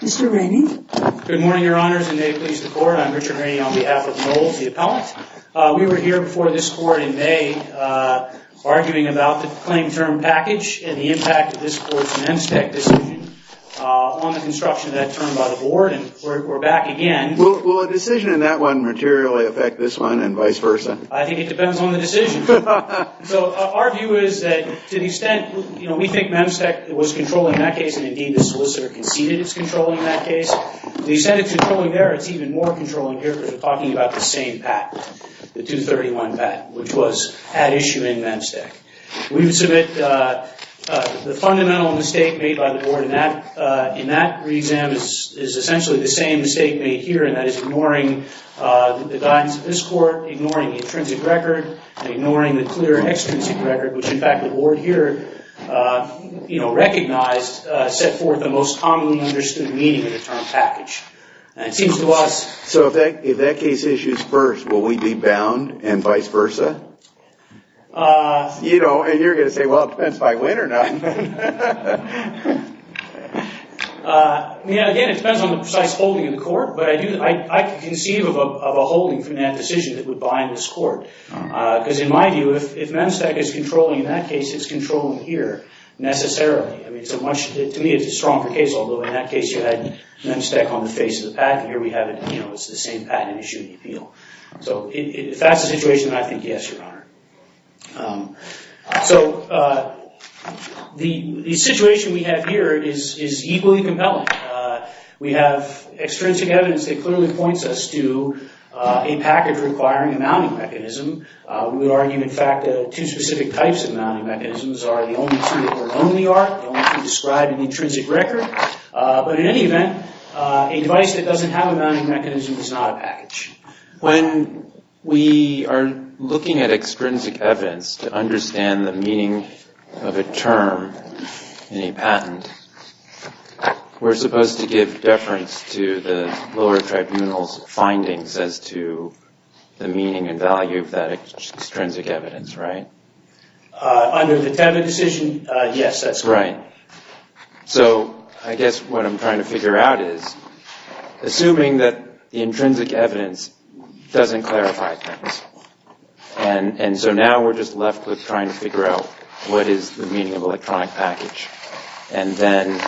Mr. Rainey. Good morning, Your Honors, and may it please the Court, I'm Richard Rainey on behalf of Knowles, the appellant. We were here before this Court in May arguing about the claim term package and the impact of this Court's Memstech decision on the construction of that term by the Board, and we're back again. Will a decision in that one materially affect this one and vice versa? I think it depends on the decision. So our view is that to the extent, you know, we think Memstech was controlling that case and indeed the solicitor conceded it's controlling that case. We said it's controlling there, it's even more controlling here because we're talking about the same patent, the 231 patent, which was at issue in Memstech. We would submit the fundamental mistake made by the Board in that re-exam is essentially the same mistake made here, and that is ignoring the guidance of this Court, ignoring the intrinsic record, and ignoring the clear extrinsic record, which in fact the Board here, you know, recognized, set forth the most commonly understood meaning of the term package. It seems to us... So if that case issues first, will we be bound and vice versa? You know, you're going to say, well, it depends if I win or not. Again, it depends on the precise holding of the Court, but I do, I can conceive of a holding from that decision that would bind this Court, because in my view, if Memstech is controlling in that case, it's controlling here, necessarily. I mean, to me it's a stronger case, although in that case, you had Memstech on the face of the pack, and here we have it, you know, it's the same patent issue in the appeal. So if that's the situation, I think yes, Your Honor. So the situation we have here is equally compelling. We have extrinsic evidence that clearly points us to a package requiring a mounting mechanism. We would argue, in fact, two specific types of mounting mechanisms are the only two that we're known to be are, the only two described in the intrinsic record, but in any event, a device that doesn't have a mounting mechanism is not a package. When we are looking at extrinsic evidence to understand the meaning of a term in a patent, we're supposed to give deference to the lower tribunal's findings as to the meaning and value of that extrinsic evidence, right? Under the Tevitt decision, yes, that's correct. So I guess what I'm trying to figure out is, assuming that the intrinsic evidence doesn't clarify things, and so now we're just left with trying to figure out what is the meaning of electronic package, and then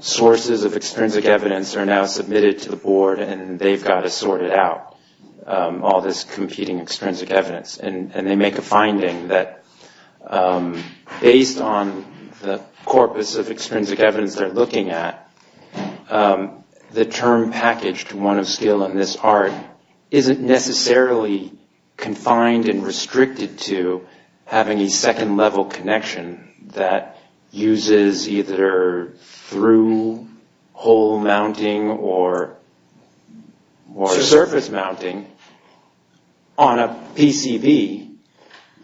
sources of extrinsic evidence are now submitted to the board, and they've got to sort it out, all this competing extrinsic evidence, and they make a finding that, based on the corpus of extrinsic evidence they're looking at, the term package to one of skill in this art isn't necessarily confined and restricted to having a second-level connection that uses either through-hole mounting or surface mounting on a PCB,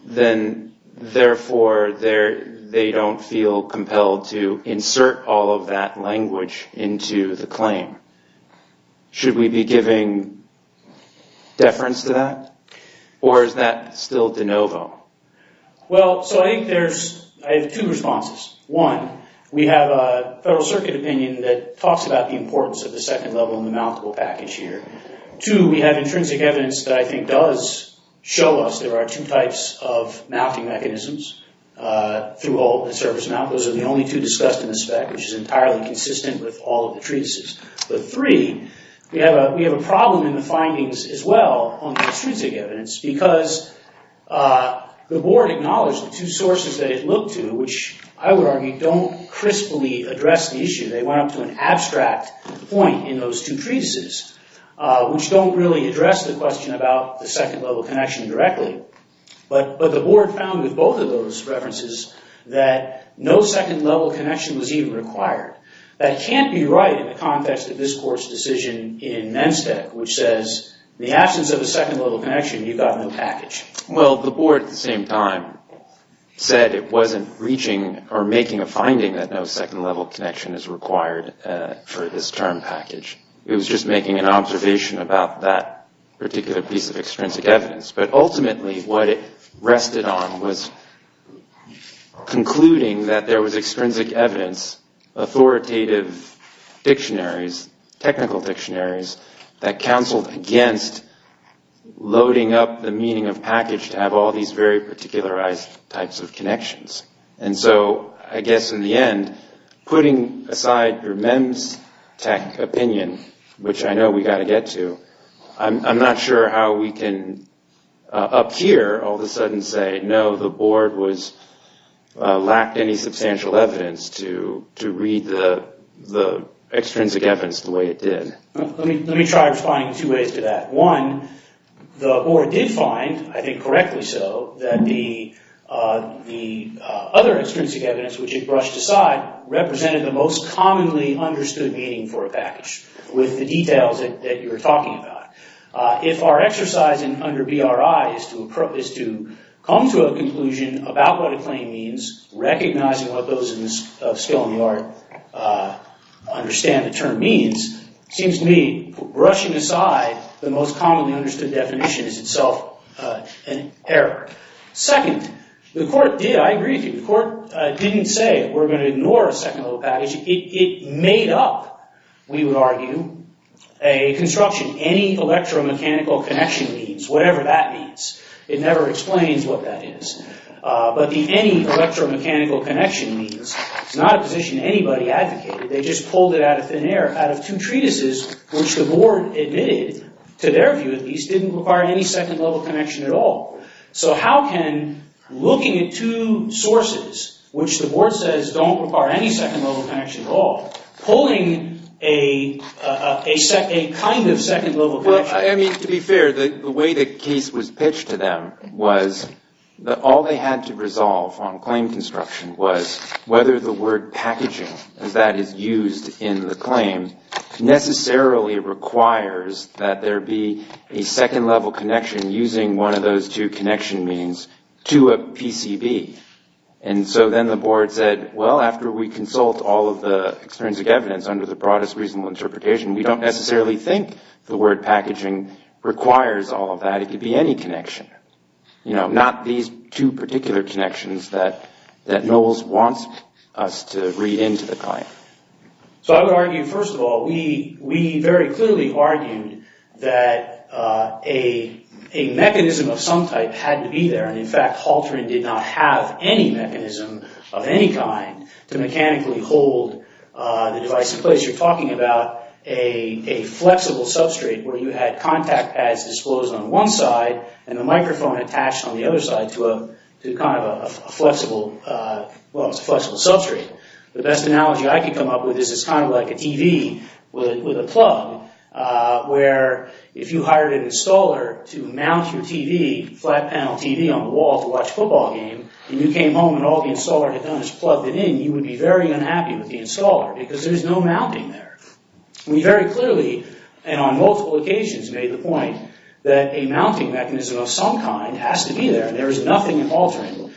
then therefore they don't feel compelled to insert all of that language into the claim. Should we be giving deference to that, or is that still de novo? Well, so I think there's two responses. One, we have a Federal Circuit opinion that Two, we have intrinsic evidence that I think does show us there are two types of mounting mechanisms through-hole and surface mount. Those are the only two discussed in the spec, which is entirely consistent with all of the treatises. But three, we have a problem in the findings as well on extrinsic evidence, because the board acknowledged the two sources that it looked to, which I would argue don't crisply address the issue. They went up to an abstract point in those two treatises, which don't really address the question about the second-level connection directly. But the board found with both of those references that no second-level connection was even required. That can't be right in the context of this Court's decision in Menstech, which says, in the absence of a second-level connection, you've got no package. Well, the board at the same time said it wasn't reaching or making a finding that no second-level connection is required for this term package. It was just making an observation about that particular piece of extrinsic evidence. But ultimately, what it rested on was concluding that there was extrinsic evidence, authoritative dictionaries, technical dictionaries, that counseled against loading up the meaning of package to have all these very particularized types of connections. And so I guess in the end, putting aside your Menstech opinion, which I know we've got to get to, I'm not sure how we can up here all of a sudden say no, the board lacked any substantial evidence to read the extrinsic evidence the way it did. Let me try responding in two ways to that. One, the board did find, I think correctly so, that the other extrinsic evidence, which it brushed aside, represented the most commonly understood meaning for a package with the details that you're talking about. If our exercise under BRI is to come to a conclusion about what a claim means, recognizing what those of skill in the art understand the term means, it seems to me brushing aside the most commonly understood definition is itself an error. Second, the court did, I agree with you, the court didn't say we're going to ignore a second level package. It made up, we would argue, a construction, any electromechanical connection means, whatever that means. It never explains what that is. But the any electromechanical connection means, it's not a position anybody advocated. They just pulled it out of thin air out of two treatises which the board admitted, to their view at least, didn't require any second level connection at all. So how can looking at two sources, which the board says don't require any second level connection at all, pulling a kind of second level connection? Well, I mean, to be fair, the way the case was pitched to them was that all they had to resolve on claim construction was whether the word packaging, as that is used in the claim, necessarily requires that there be a second level connection using one of those two connection means to a PCB. And so then the board said, well, after we consult all of the extrinsic evidence under the broadest reasonable interpretation, we don't necessarily think the word packaging requires all of that. It could be any connection. You know, not these two particular connections that Knowles wants us to read into the claim. So I would argue, first of all, we very clearly argued that a mechanism of some type had to be there. And in fact, Halteran did not have any mechanism of any kind to mechanically hold the device in place. You're talking about a flexible substrate where you had contact as disclosed on one side and the microphone attached on the other side to kind of a flexible substrate. The best analogy I could come up with is it's kind of like a TV with a plug where if you hired an installer to mount your TV, flat panel TV on the wall to watch a football game, and you came home and all the installer had done is plugged it in, you would be very unhappy with the installer because there's no mounting there. We very clearly, and on the other hand, that a mounting mechanism of some kind has to be there. There is nothing in Halteran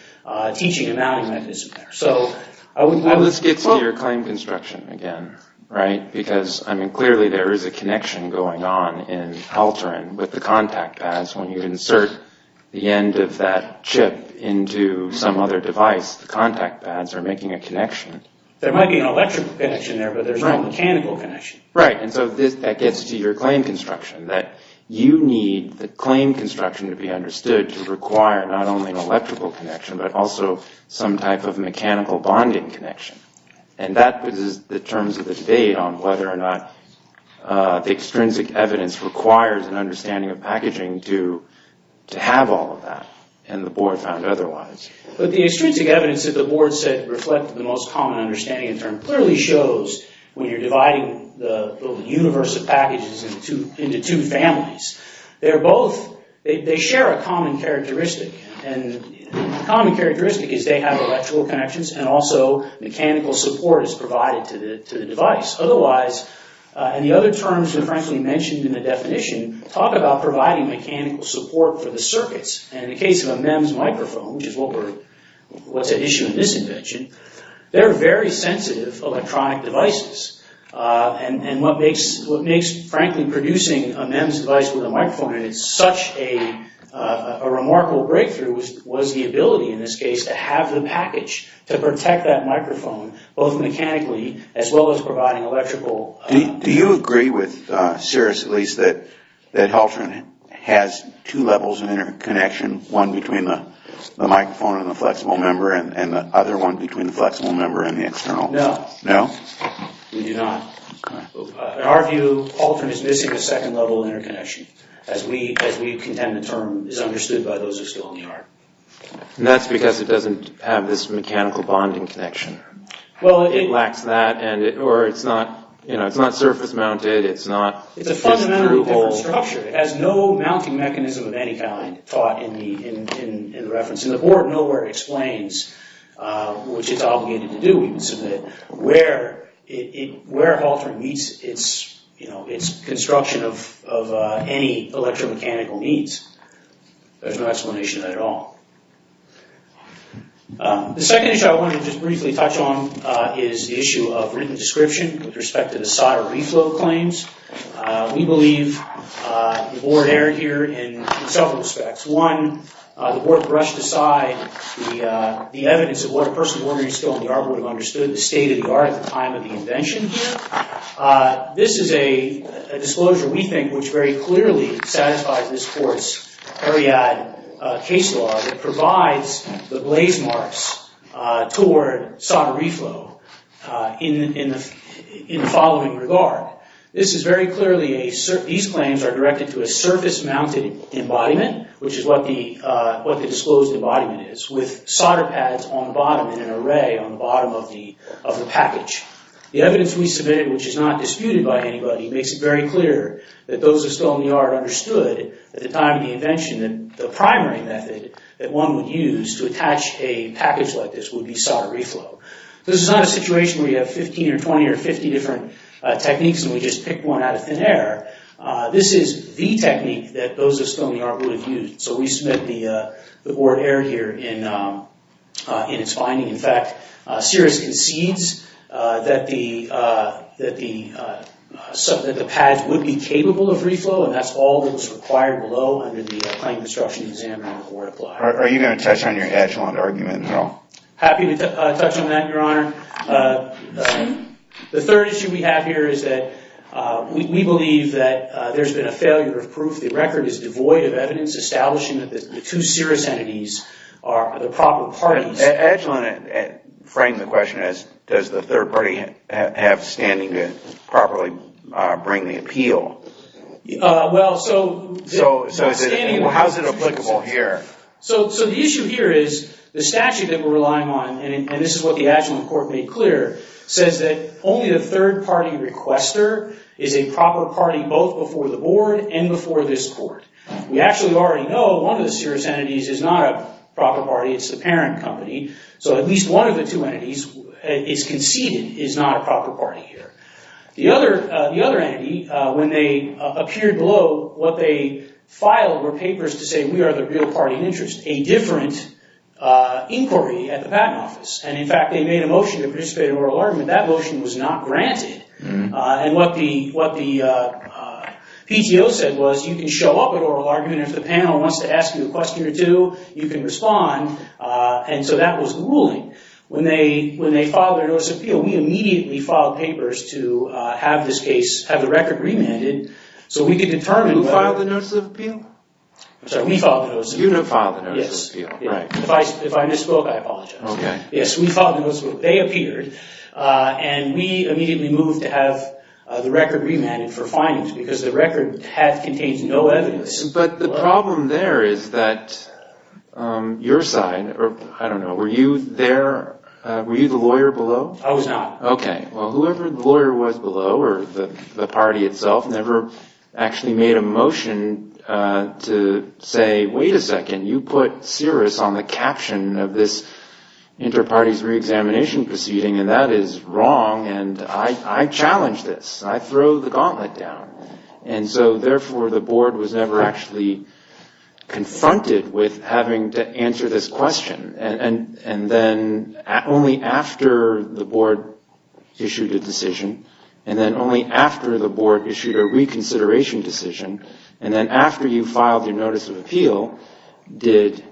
teaching a mounting mechanism there. So let's get to your claim construction again, right? Because, I mean, clearly there is a connection going on in Halteran with the contact pads. When you insert the end of that chip into some other device, the contact pads are making a connection. There might be an electrical connection there, but there's no mechanical connection. Right. And so that gets to your claim construction, that you need the claim construction to be understood to require not only an electrical connection, but also some type of mechanical bonding connection. And that is the terms of the debate on whether or not the extrinsic evidence requires an understanding of packaging to have all of that and the board found otherwise. But the extrinsic evidence that the board said reflected the most common understanding in term clearly shows when you're dividing the universe of packages into two families. They're both, they share a common characteristic. And the common characteristic is they have electrical connections and also mechanical support is provided to the device. Otherwise, and the other terms were frankly mentioned in the definition, talk about providing mechanical support for the circuits. And in the case of a MEMS microphone, which is what's at issue in this invention, they're very sensitive electronic devices. And what makes frankly producing a MEMS device with a microphone, and it's such a remarkable breakthrough was the ability in this case to have the package to protect that microphone both mechanically as well as providing electrical. Do you agree with Sirrus at least that Halterin has two levels of interconnection, one between the microphone and the flexible member and the other one between the flexible member and the external? No. No? We do not. In our view, Halterin is missing a second level of interconnection as we contend the term is understood by those who are still in the art. That's because it doesn't have this mechanical bonding connection. It lacks that or it's not, you know, it's not surface mounted, it's not... It's a fundamentally different structure. It has no mounting mechanism of any kind taught in the reference. And the board nowhere explains which it's obligated to do even so that where Halterin meets its, you know, its construction of any electromechanical needs. There's no explanation at all. The second issue I wanted to just briefly touch on is the issue of written description with respect to the solder reflow claims. We believe the board erred here in several respects. One, the board brushed aside the evidence of what a person still in the art would have understood, the state of the art at the time of the invention. This is a disclosure we think which very clearly satisfies this court's Ariadne case law that provides the blaze marks toward solder reflow in the following regard. This is very clearly a... These claims are directed to a surface mounted embodiment which is what the disclosed embodiment is with solder pads on the bottom in an array on the bottom of the package. The evidence we submitted which is not disputed by anybody makes it very clear that those who still in the art understood at the time of the invention that the primary method that one would use to attach a package like this would be solder reflow. This is not a situation where you have 15 or 20 or 50 different techniques and we just pick one out of thin air. This is the technique that those that still in the art would have used. So we submit the board erred here in its finding. In fact, Sirrus concedes that the pads would be capable of reflow and that's all that was required below under the claim construction exam that the board applied. Are you going to touch on your echelon argument at all? Happy to touch on that, Your Honor. The third issue we have here is that we believe that there's been a failure of proof. The record is devoid of evidence establishing that the two Sirrus entities are the proper parties. The echelon framed the question as does the third party have standing to properly bring the appeal? Well, so standing... How is it applicable here? So the issue here is the statute that we're relying on, and this is what the echelon court made clear, says that only the third party requester is a proper party both before the board and before this court. We actually already know one of the Sirrus entities is not a proper party. It's the parent company. So at least one of the two entities is conceded is not a proper party here. The other entity, when they appeared below, what they filed were papers to say we are the real party in interest, a different inquiry at the patent office. And in fact, they made a motion to participate in oral argument. That motion was not granted. And what the PTO said was you can show up at oral argument. If the panel wants to ask you a question or two, you can respond. And so that was the ruling. When they filed their notice of appeal, we immediately filed papers to have this case, have the record remanded so we could determine... Who filed the notice of appeal? I'm sorry, we filed the notice of appeal. You didn't file the notice of appeal. Yes. If I misspoke, I apologize. Okay. Yes, we filed the notice of appeal. They appeared, and we immediately moved to have the record remanded for findings because the record had contained no evidence. But the problem there is that your side, or I don't know, were you there, were you the lawyer below? I was not. Okay. Well, whoever the lawyer was below or the party itself never actually made a motion to say, wait a second, you put Cirrus on the caption of this inter-parties re-examination proceeding, and that is wrong. And I challenge this. I throw the gauntlet down. And so therefore, the board was never actually confronted with having to answer this question. And then only after the board issued a decision, and then only after the board issued a reconsideration decision, and then after you filed your notice of appeal, did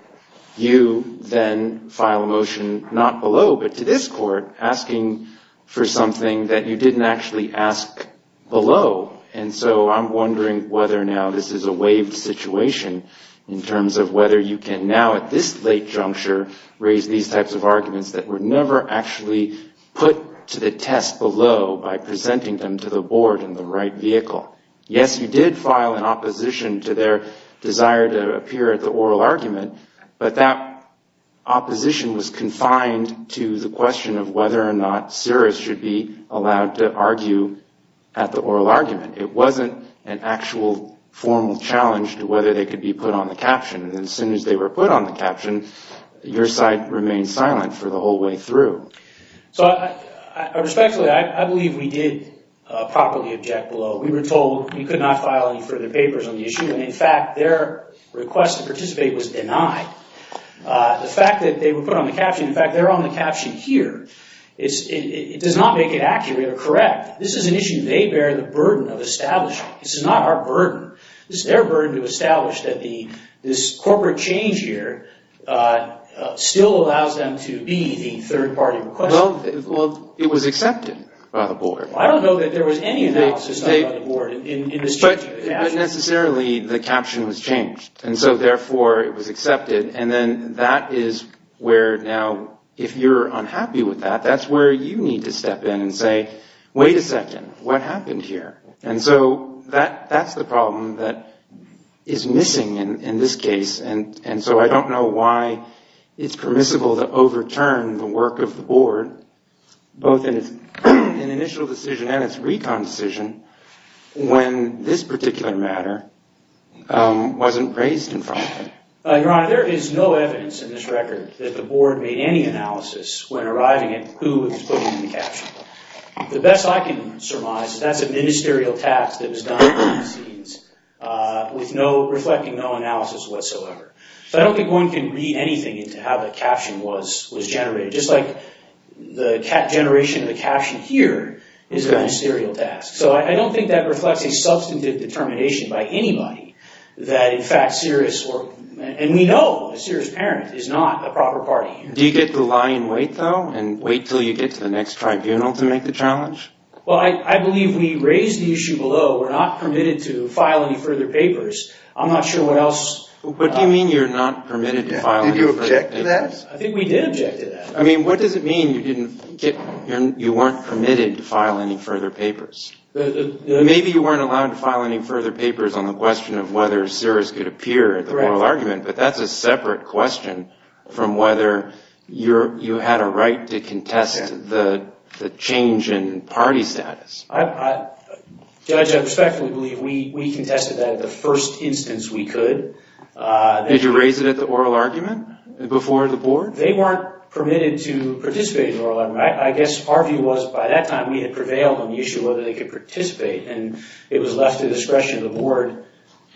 you then file a motion not below, but to this court asking for something that you didn't actually ask below. And so I'm wondering whether now this is a waived situation in terms of whether you can now at this late juncture raise these types of arguments that were never actually put to the test below by presenting them to the board in the right vehicle. Yes, you did file an opposition to their desire to appear at the oral argument, but that opposition was confined to the question of whether or not Cirrus should be allowed to argue at the oral argument. It wasn't an actual formal challenge to whether they could be put on the caption. And as soon as they were put on the caption, your side remained silent for the whole way through. So respectfully, I believe we did properly object below. We were told we could not file any further papers on the issue, and in fact their request to participate was denied. The fact that they were put on the caption, in fact, they're on the caption here, it does not make it accurate or correct. This is an issue they bear the burden of establishing. This is not our burden. This is their burden to establish that this corporate change here still allows them to be the third party requester. Well, it was accepted by the board. I don't know that there was any analysis done by the board. But necessarily, the caption was changed. And so therefore, it was accepted. And then that is where now, if you're unhappy with that, that's where you need to step in and say, wait a second, what happened here? And so that's the problem that is missing in this case. And so I don't know why it's permissible to overturn the work of the board, both in its initial decision and its recon decision, when this particular matter wasn't raised in front of it. Your Honor, there is no evidence in this record that the board made any analysis when arriving at who was putting in the caption. The best I can surmise is that's a ministerial task that was done behind the scenes with reflecting no analysis whatsoever. So I don't think one can read anything into how the So I don't think that reflects a substantive determination by anybody that, in fact, and we know a serious parent is not a proper party here. Do you get to lie in wait, though, and wait till you get to the next tribunal to make the challenge? Well, I believe we raised the issue below. We're not permitted to file any further papers. I'm not sure what else. What do you mean you're not permitted to file any further papers? Did you object to that? I think we did object to that. I mean, what does it mean you weren't permitted to file any further papers? Maybe you weren't allowed to file any further papers on the question of whether cirrus could appear at the oral argument, but that's a separate question from whether you had a right to contest the change in party status. Judge, I respectfully believe we contested that at the first instance we could. Did you raise it at the oral argument before the board? They weren't permitted to participate in oral argument. I guess our view was by that time we had prevailed on the issue of whether they could participate, and it was left to the discretion of the board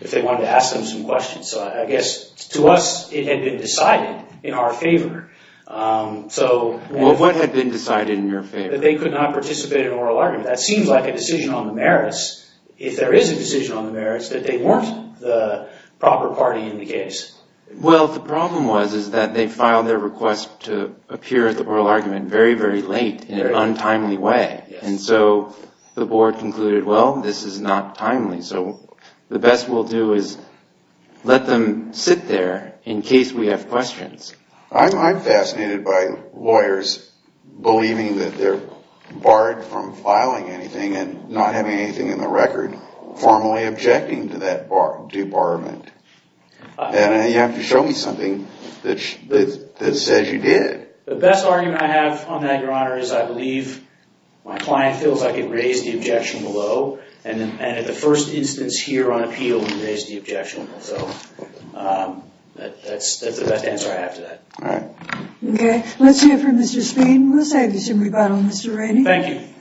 if they wanted to ask them some questions. So I guess to us it had been decided in our favor. What had been decided in your favor? That they could not participate in oral argument. That seems like a decision on the merits, if there is a decision on the merits, that they weren't the proper party in the case. Well, the problem was is that they filed their request to appear at the oral argument very, very late in an untimely way, and so the board concluded, well, this is not timely, so the best we'll do is let them sit there in case we have questions. I'm fascinated by lawyers believing that they're barred from filing anything and not having anything in the record, formally objecting to that debarment, and you have to show me something that says you did. The best argument I have on that, Your Honor, is I believe my client feels I could raise the objection below, and at the first instance here on appeal, we raised the objection. So that's the best answer I have to that. All right. Okay. Let's have this rebuttal, Mr. Rainey. Thank you.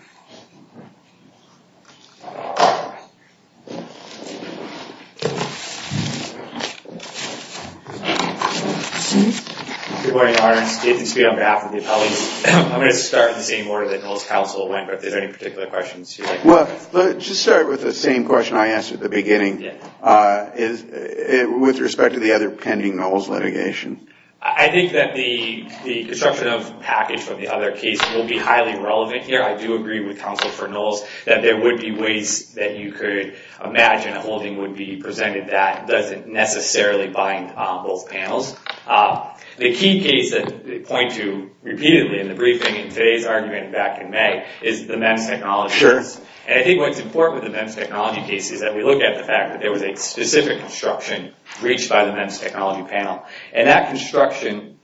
Good morning, Your Honor. It's David Speed on behalf of the appellees. I'm going to start in the same order that Noll's counsel went, but if there's any particular questions you'd like to ask. Well, let's just start with the same question I asked at the beginning, with respect to the other pending Noll's litigation. I think that the construction of package from the other case will be highly relevant here. I do agree with counsel for Noll's that there would be ways that you could imagine a holding would be presented that doesn't necessarily bind on both panels. The key case that they point to repeatedly in the briefing in today's argument back in May is the MEMS technology case. And I think what's important with the MEMS technology case is that we look at the fact that there was a specific construction breached by the MEMS technology panel. And that construction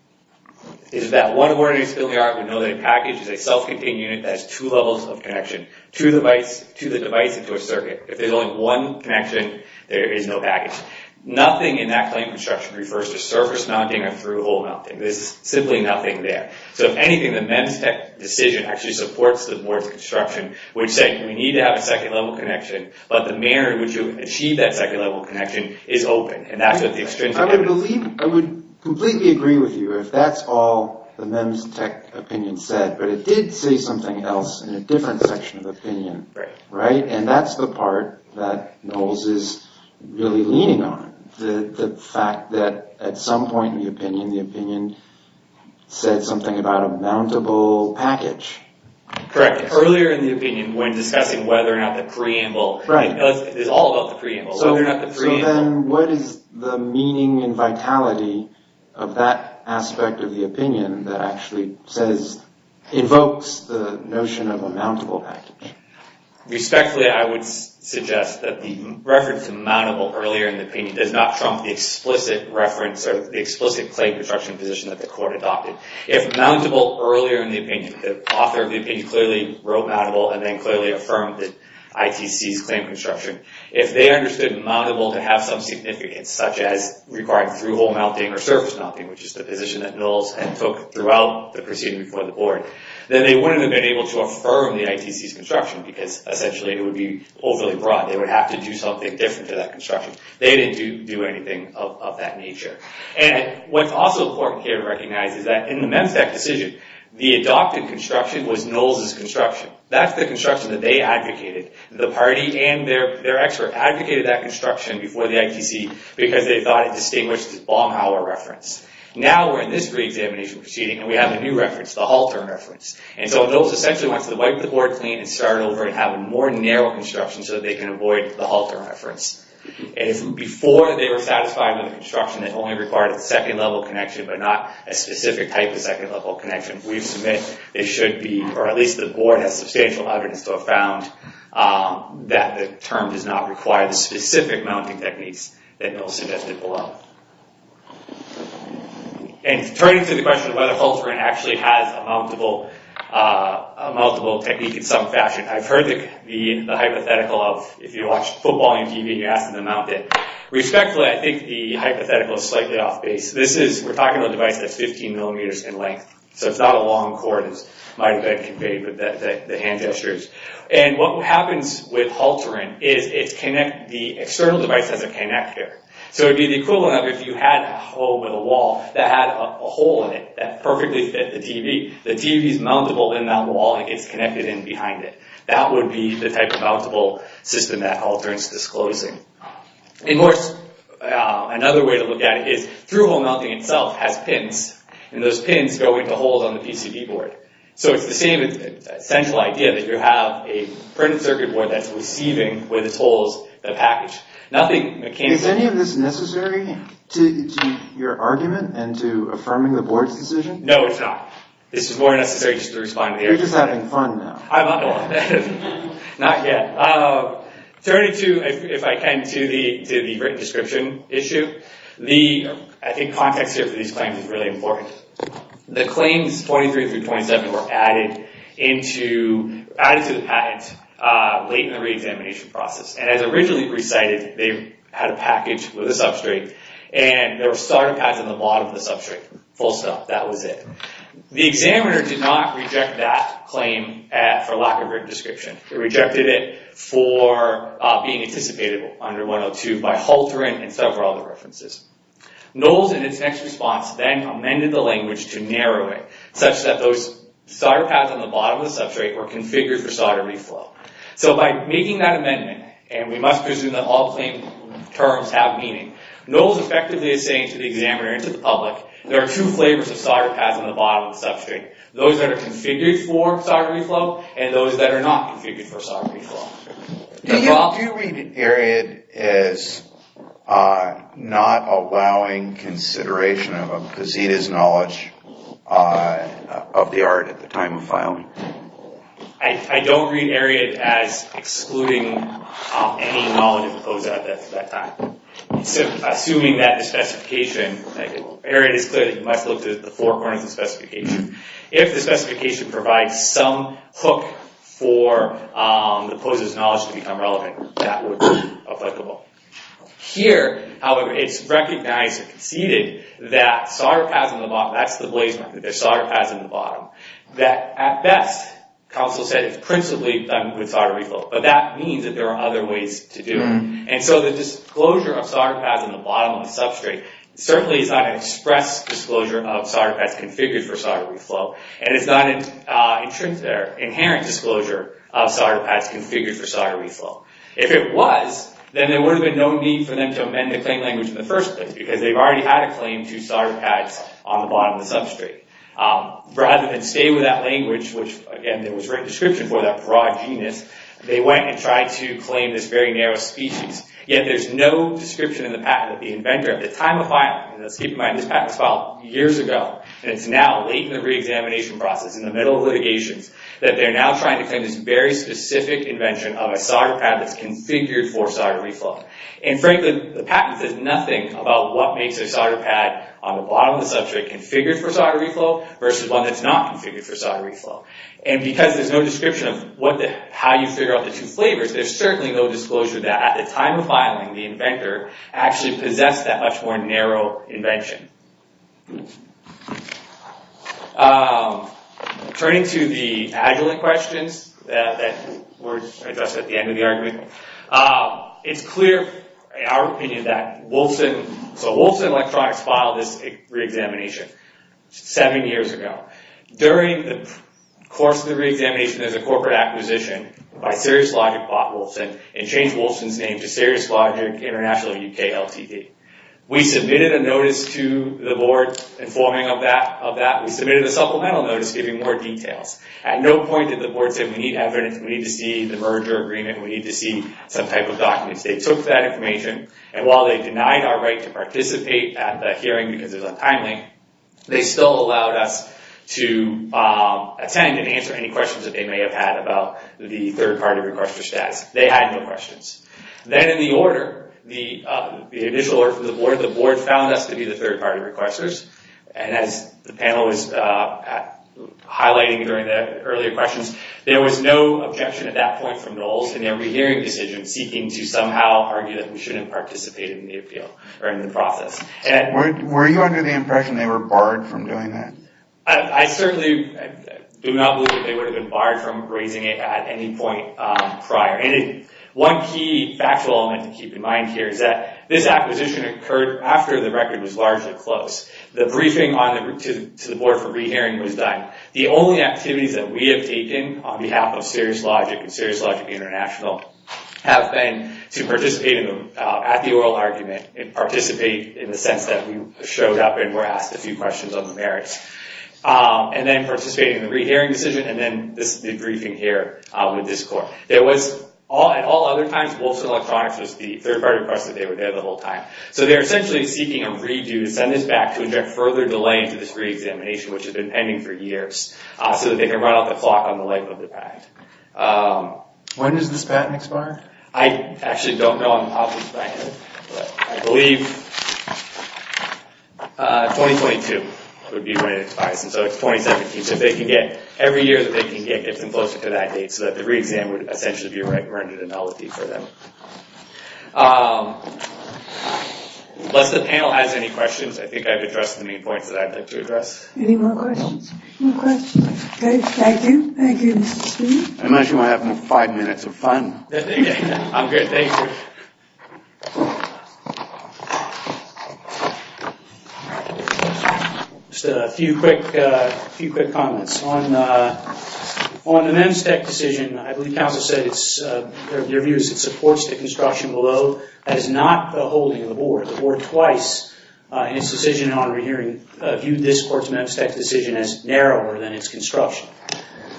is that one ordinary spilling art would know that a package is a self-contained unit that has two levels of connection, to the device and to a circuit. If there's only one connection, there is no package. Nothing in that kind of construction refers to surface mounting or through-hole mounting. There's simply nothing there. So if anything, the MEMS decision actually supports the board's construction, which said, we need to have a second-level connection, but the manner in which you achieve that second-level connection is open. I would completely agree with you if that's all the MEMS tech opinion said, but it did say something else in a different section of the opinion. And that's the part that Noll's is really leaning on. The fact that at some point in the opinion, the opinion said something about a mountable package. Correct. Earlier in the opinion, when discussing whether or not the preamble is all about the preamble, whether or not the preamble... So then what is the meaning and vitality of that aspect of the opinion that actually says, evokes the notion of a mountable package? Respectfully, I would suggest that the reference to mountable earlier in the opinion does not trump the explicit reference or the explicit plate construction position that the court adopted. If mountable earlier in the opinion, the author of the opinion clearly wrote mountable and then clearly affirmed the ITC's claim construction, if they understood mountable to have some significance, such as requiring through-hole mounting or surface mounting, which is the position that Noll's had took throughout the proceeding before the board, then they wouldn't have been able to affirm the ITC's construction because essentially it would be overly broad. They would have to do something different to that construction. They didn't do anything of that nature. What's also important here to recognize is that in the MEMSAC decision, the adopted construction was Noll's construction. That's the construction that they advocated, the party and their expert advocated that construction before the ITC because they thought it distinguished this Baumhauer reference. Now we're in this pre-examination proceeding and we have a new reference, the Halter reference. So Noll's essentially went to wipe the board clean and started over and have a more narrow construction so that they can avoid the Halter reference. Before they were satisfied with the construction, it only required a second-level connection, but not a specific type of second-level connection. We submit it should be, or at least the board has substantial evidence to have found that the term does not require the specific mounting techniques that Noll suggested below. And turning to the question of whether Halter actually has a mountable technique in some fashion, I've heard the hypothetical of if you football on TV, you ask them to mount it. Respectfully, I think the hypothetical is slightly off base. We're talking about a device that's 15 millimeters in length, so it's not a long cord as might have been conveyed with the hand gestures. And what happens with Halter is the external device has a kinect here. So it would be the equivalent of if you had a hole with a wall that had a hole in it that perfectly fit the TV. The TV is mountable in that wall and gets connected in behind it. That would be the type of mountable system that Halter is disclosing. Another way to look at it is through-hole mounting itself has pins, and those pins go into holes on the PCB board. So it's the same essential idea that you have a printed circuit board that's receiving with its holes the package. Nothing mechanical. Is any of this necessary to your argument and to affirming the board's decision? No, it's not. This is more necessary just to respond. You're just having fun now. I'm not. Not yet. Turning to, if I can, to the written description issue. I think context here for these claims is really important. The claims 23 through 27 were added to the patent late in the reexamination process. And as originally recited, they had a package with a substrate, and there were solder pads in the bottom of the substrate. Full stop. That was it. The examiner did not reject that claim for lack of written description. It rejected it for being anticipated under 102 by Halter and several other references. Knowles, in its next response, then amended the language to narrow it, such that those solder pads on the bottom of the substrate were configured for solder reflow. So by making that amendment, and we must presume that all claim terms have meaning, Knowles effectively is saying to the examiner and to the public, there are two flavors of substrate. Those that are configured for solder reflow, and those that are not configured for solder reflow. Do you read Ariad as not allowing consideration of a gazeta's knowledge of the art at the time of filing? I don't read Ariad as excluding any knowledge of OZA at that time. Assuming that the specification, Ariad is clearly, must look to the four corners of the specification. If the specification provides some hook for the opponent's knowledge to become relevant, that would be applicable. Here, however, it's recognized and conceded that solder pads on the bottom, that's the blaze mark, that there's solder pads in the bottom, that at best, counsel said it's principally done with solder reflow. But that means that there are other ways to do it. And so the disclosure of solder pads configured for solder reflow, and it's not an inherent disclosure of solder pads configured for solder reflow. If it was, then there would have been no need for them to amend the claim language in the first place, because they've already had a claim to solder pads on the bottom of the substrate. Rather than stay with that language, which again, there was written description for that broad genus, they went and tried to claim this very narrow species. Yet there's no description in the patent that the inventor at the time of filing, and let's keep in mind this patent was filed years ago, and it's now late in the re-examination process, in the middle of litigations, that they're now trying to claim this very specific invention of a solder pad that's configured for solder reflow. And frankly, the patent says nothing about what makes a solder pad on the bottom of the substrate configured for solder reflow, versus one that's not configured for solder reflow. And because there's no description of how you figure out the two flavors, there's certainly no disclosure that at the time of filing, the inventor actually possessed that more narrow invention. Turning to the Agilent questions that were addressed at the end of the argument, it's clear, in our opinion, that Wilson Electronics filed this re-examination seven years ago. During the course of the re-examination, there's a corporate acquisition by SiriusLogic bought Wilson, and changed Wilson's name to SiriusLogic International UK Ltd. We submitted a notice to the board informing of that. We submitted a supplemental notice giving more details. At no point did the board say, we need evidence, we need to see the merger agreement, we need to see some type of documents. They took that information, and while they denied our right to participate at the hearing because it was untimely, they still allowed us to attend and answer any questions that they may have had about the third-party request for status. They had no questions. Then in the order, the initial order from the board, the board found us to be the third-party requesters, and as the panel was highlighting during the earlier questions, there was no objection at that point from Knowles in their re-hearing decision seeking to somehow argue that we shouldn't participate in the appeal or in the process. Were you under the impression they were barred from doing that? I certainly do not believe that they would have been barred from any point prior. One key factual element to keep in mind here is that this acquisition occurred after the record was largely closed. The briefing to the board for re-hearing was done. The only activities that we have taken on behalf of SeriousLogic and SeriousLogic International have been to participate at the oral argument and participate in the sense that we showed up and were asked a few questions on the merits, and then participate in the re-hearing decision, and then this briefing here with this court. At all other times, Wolfson Electronics was the third-party requester. They were there the whole time, so they're essentially seeking a redo to send this back to inject further delay into this re-examination, which has been pending for years, so that they can run out the clock on the length of the patent. When does this patent expire? I actually don't know. I'm probably blanking, but I believe 2022 would be when it expires, so it's 2017. Every year that they can get, get them closer to that date, so that the re-exam would essentially be rendered annullity for them. Unless the panel has any questions, I think I've addressed the main points that I'd like to address. Any more questions? No questions? Okay, thank you. Thank you, Mr. Steele. I imagine we're having five minutes of fun. I'm good, thank you. Just a few quick comments. On the Memstech decision, I believe counsel said it's, your view is it supports the construction below. That is not the holding of the board. The board twice in its decision in honorary hearing viewed this court's Memstech decision as narrower than its construction.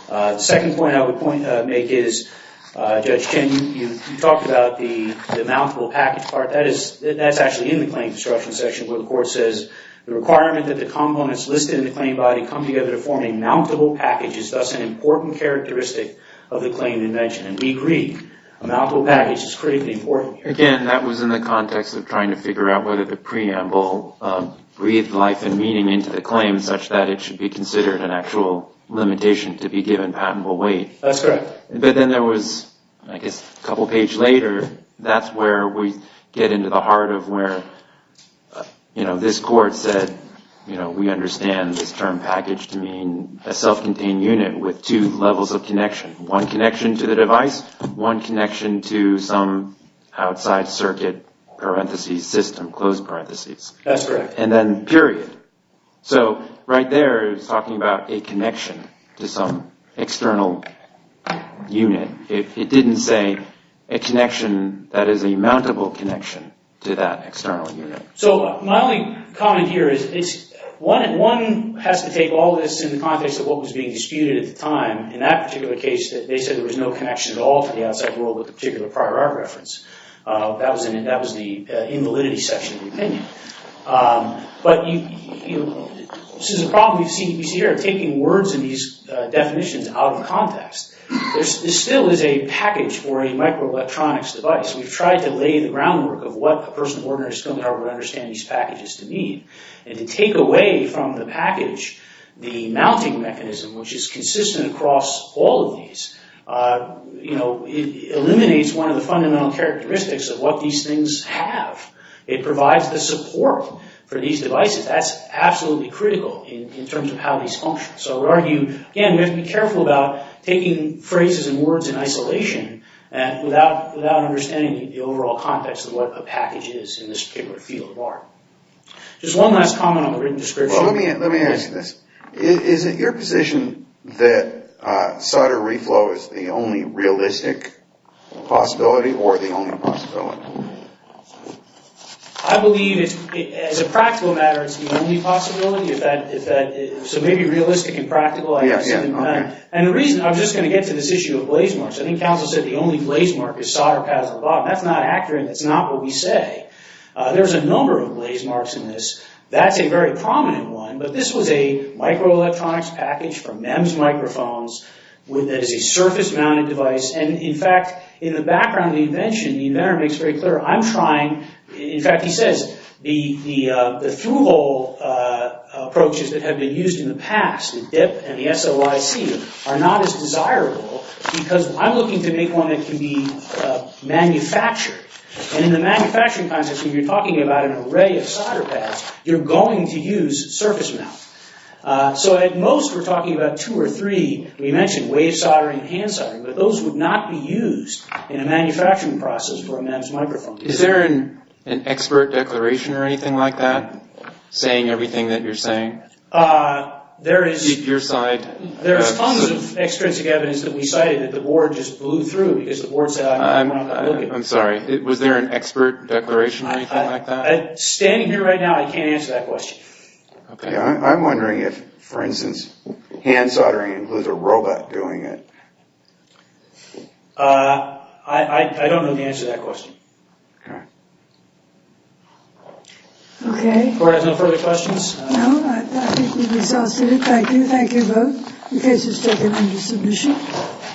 The second point I would make is, Judge Chen, you talked about the mountable package part. That is, that's actually in the claim construction section where the court says the requirement that the components listed in the claim body come together to form a mountable package is thus an important characteristic of the claim you mentioned. And we agree, a mountable package is critically important. Again, that was in the context of trying to figure out whether the preamble breathed life and meaning into the claim such that it should be considered an actual limitation to be given patentable weight. That's correct. But then there was, I guess, a couple pages later, that's where we get into the heart of where, you know, this court said, you know, we understand this term package to mean a self-contained unit with two levels of connection. One connection to the device, one connection to some outside circuit parentheses system, closed parentheses. That's correct. And then period. So right there is talking about a connection to some external unit. If it didn't say a connection that is a mountable connection to that external unit. So my only comment here is one has to take all this in the context of what was being disputed at the time. In that particular case, they said there was no connection at all to the outside world with the particular prior art reference. That was the invalidity section of the opinion. But this is a problem we see here, taking words in these definitions out of context. This still is a package for a microelectronics device. We've tried to lay the groundwork of what a person of ordinary skill power would understand these packages to mean. And to take away from the package the mounting mechanism, which is consistent across all of these, you know, it eliminates one of the fundamental characteristics of what these have. It provides the support for these devices. That's absolutely critical in terms of how these function. So I would argue, again, we have to be careful about taking phrases and words in isolation without understanding the overall context of what a package is in this particular field of art. Just one last comment on the written description. Let me ask you this. Is it your position that solder reflow is the only realistic possibility or the only possibility? I believe, as a practical matter, it's the only possibility. So maybe realistic and practical, I guess, doesn't matter. And the reason, I'm just going to get to this issue of blaze marks. I think Council said the only blaze mark is solder pads at the bottom. That's not accurate. That's not what we say. There's a number of blaze marks in this. That's a very prominent one. But this was a background invention. The inventor makes very clear, I'm trying, in fact, he says, the through-hole approaches that have been used in the past, the DIP and the SOIC, are not as desirable because I'm looking to make one that can be manufactured. And in the manufacturing process, when you're talking about an array of solder pads, you're going to use surface mount. So at most, we're talking about two or three. We mentioned wave soldering and hand soldering, but those would not be used in a manufacturing process for a MEMS microphone. Is there an expert declaration or anything like that, saying everything that you're saying? There is tons of extrinsic evidence that we cited that the board just blew through because the board said, I'm not going to look at it. I'm sorry. Was there an expert declaration or anything like that? Standing here right now, I can't answer that question. Yeah, I'm wondering if, for instance, hand soldering includes a robot doing it. I don't know the answer to that question. Okay. Board has no further questions? No, I think we've exhausted it. Thank you. Thank you both. The case is taken under submission.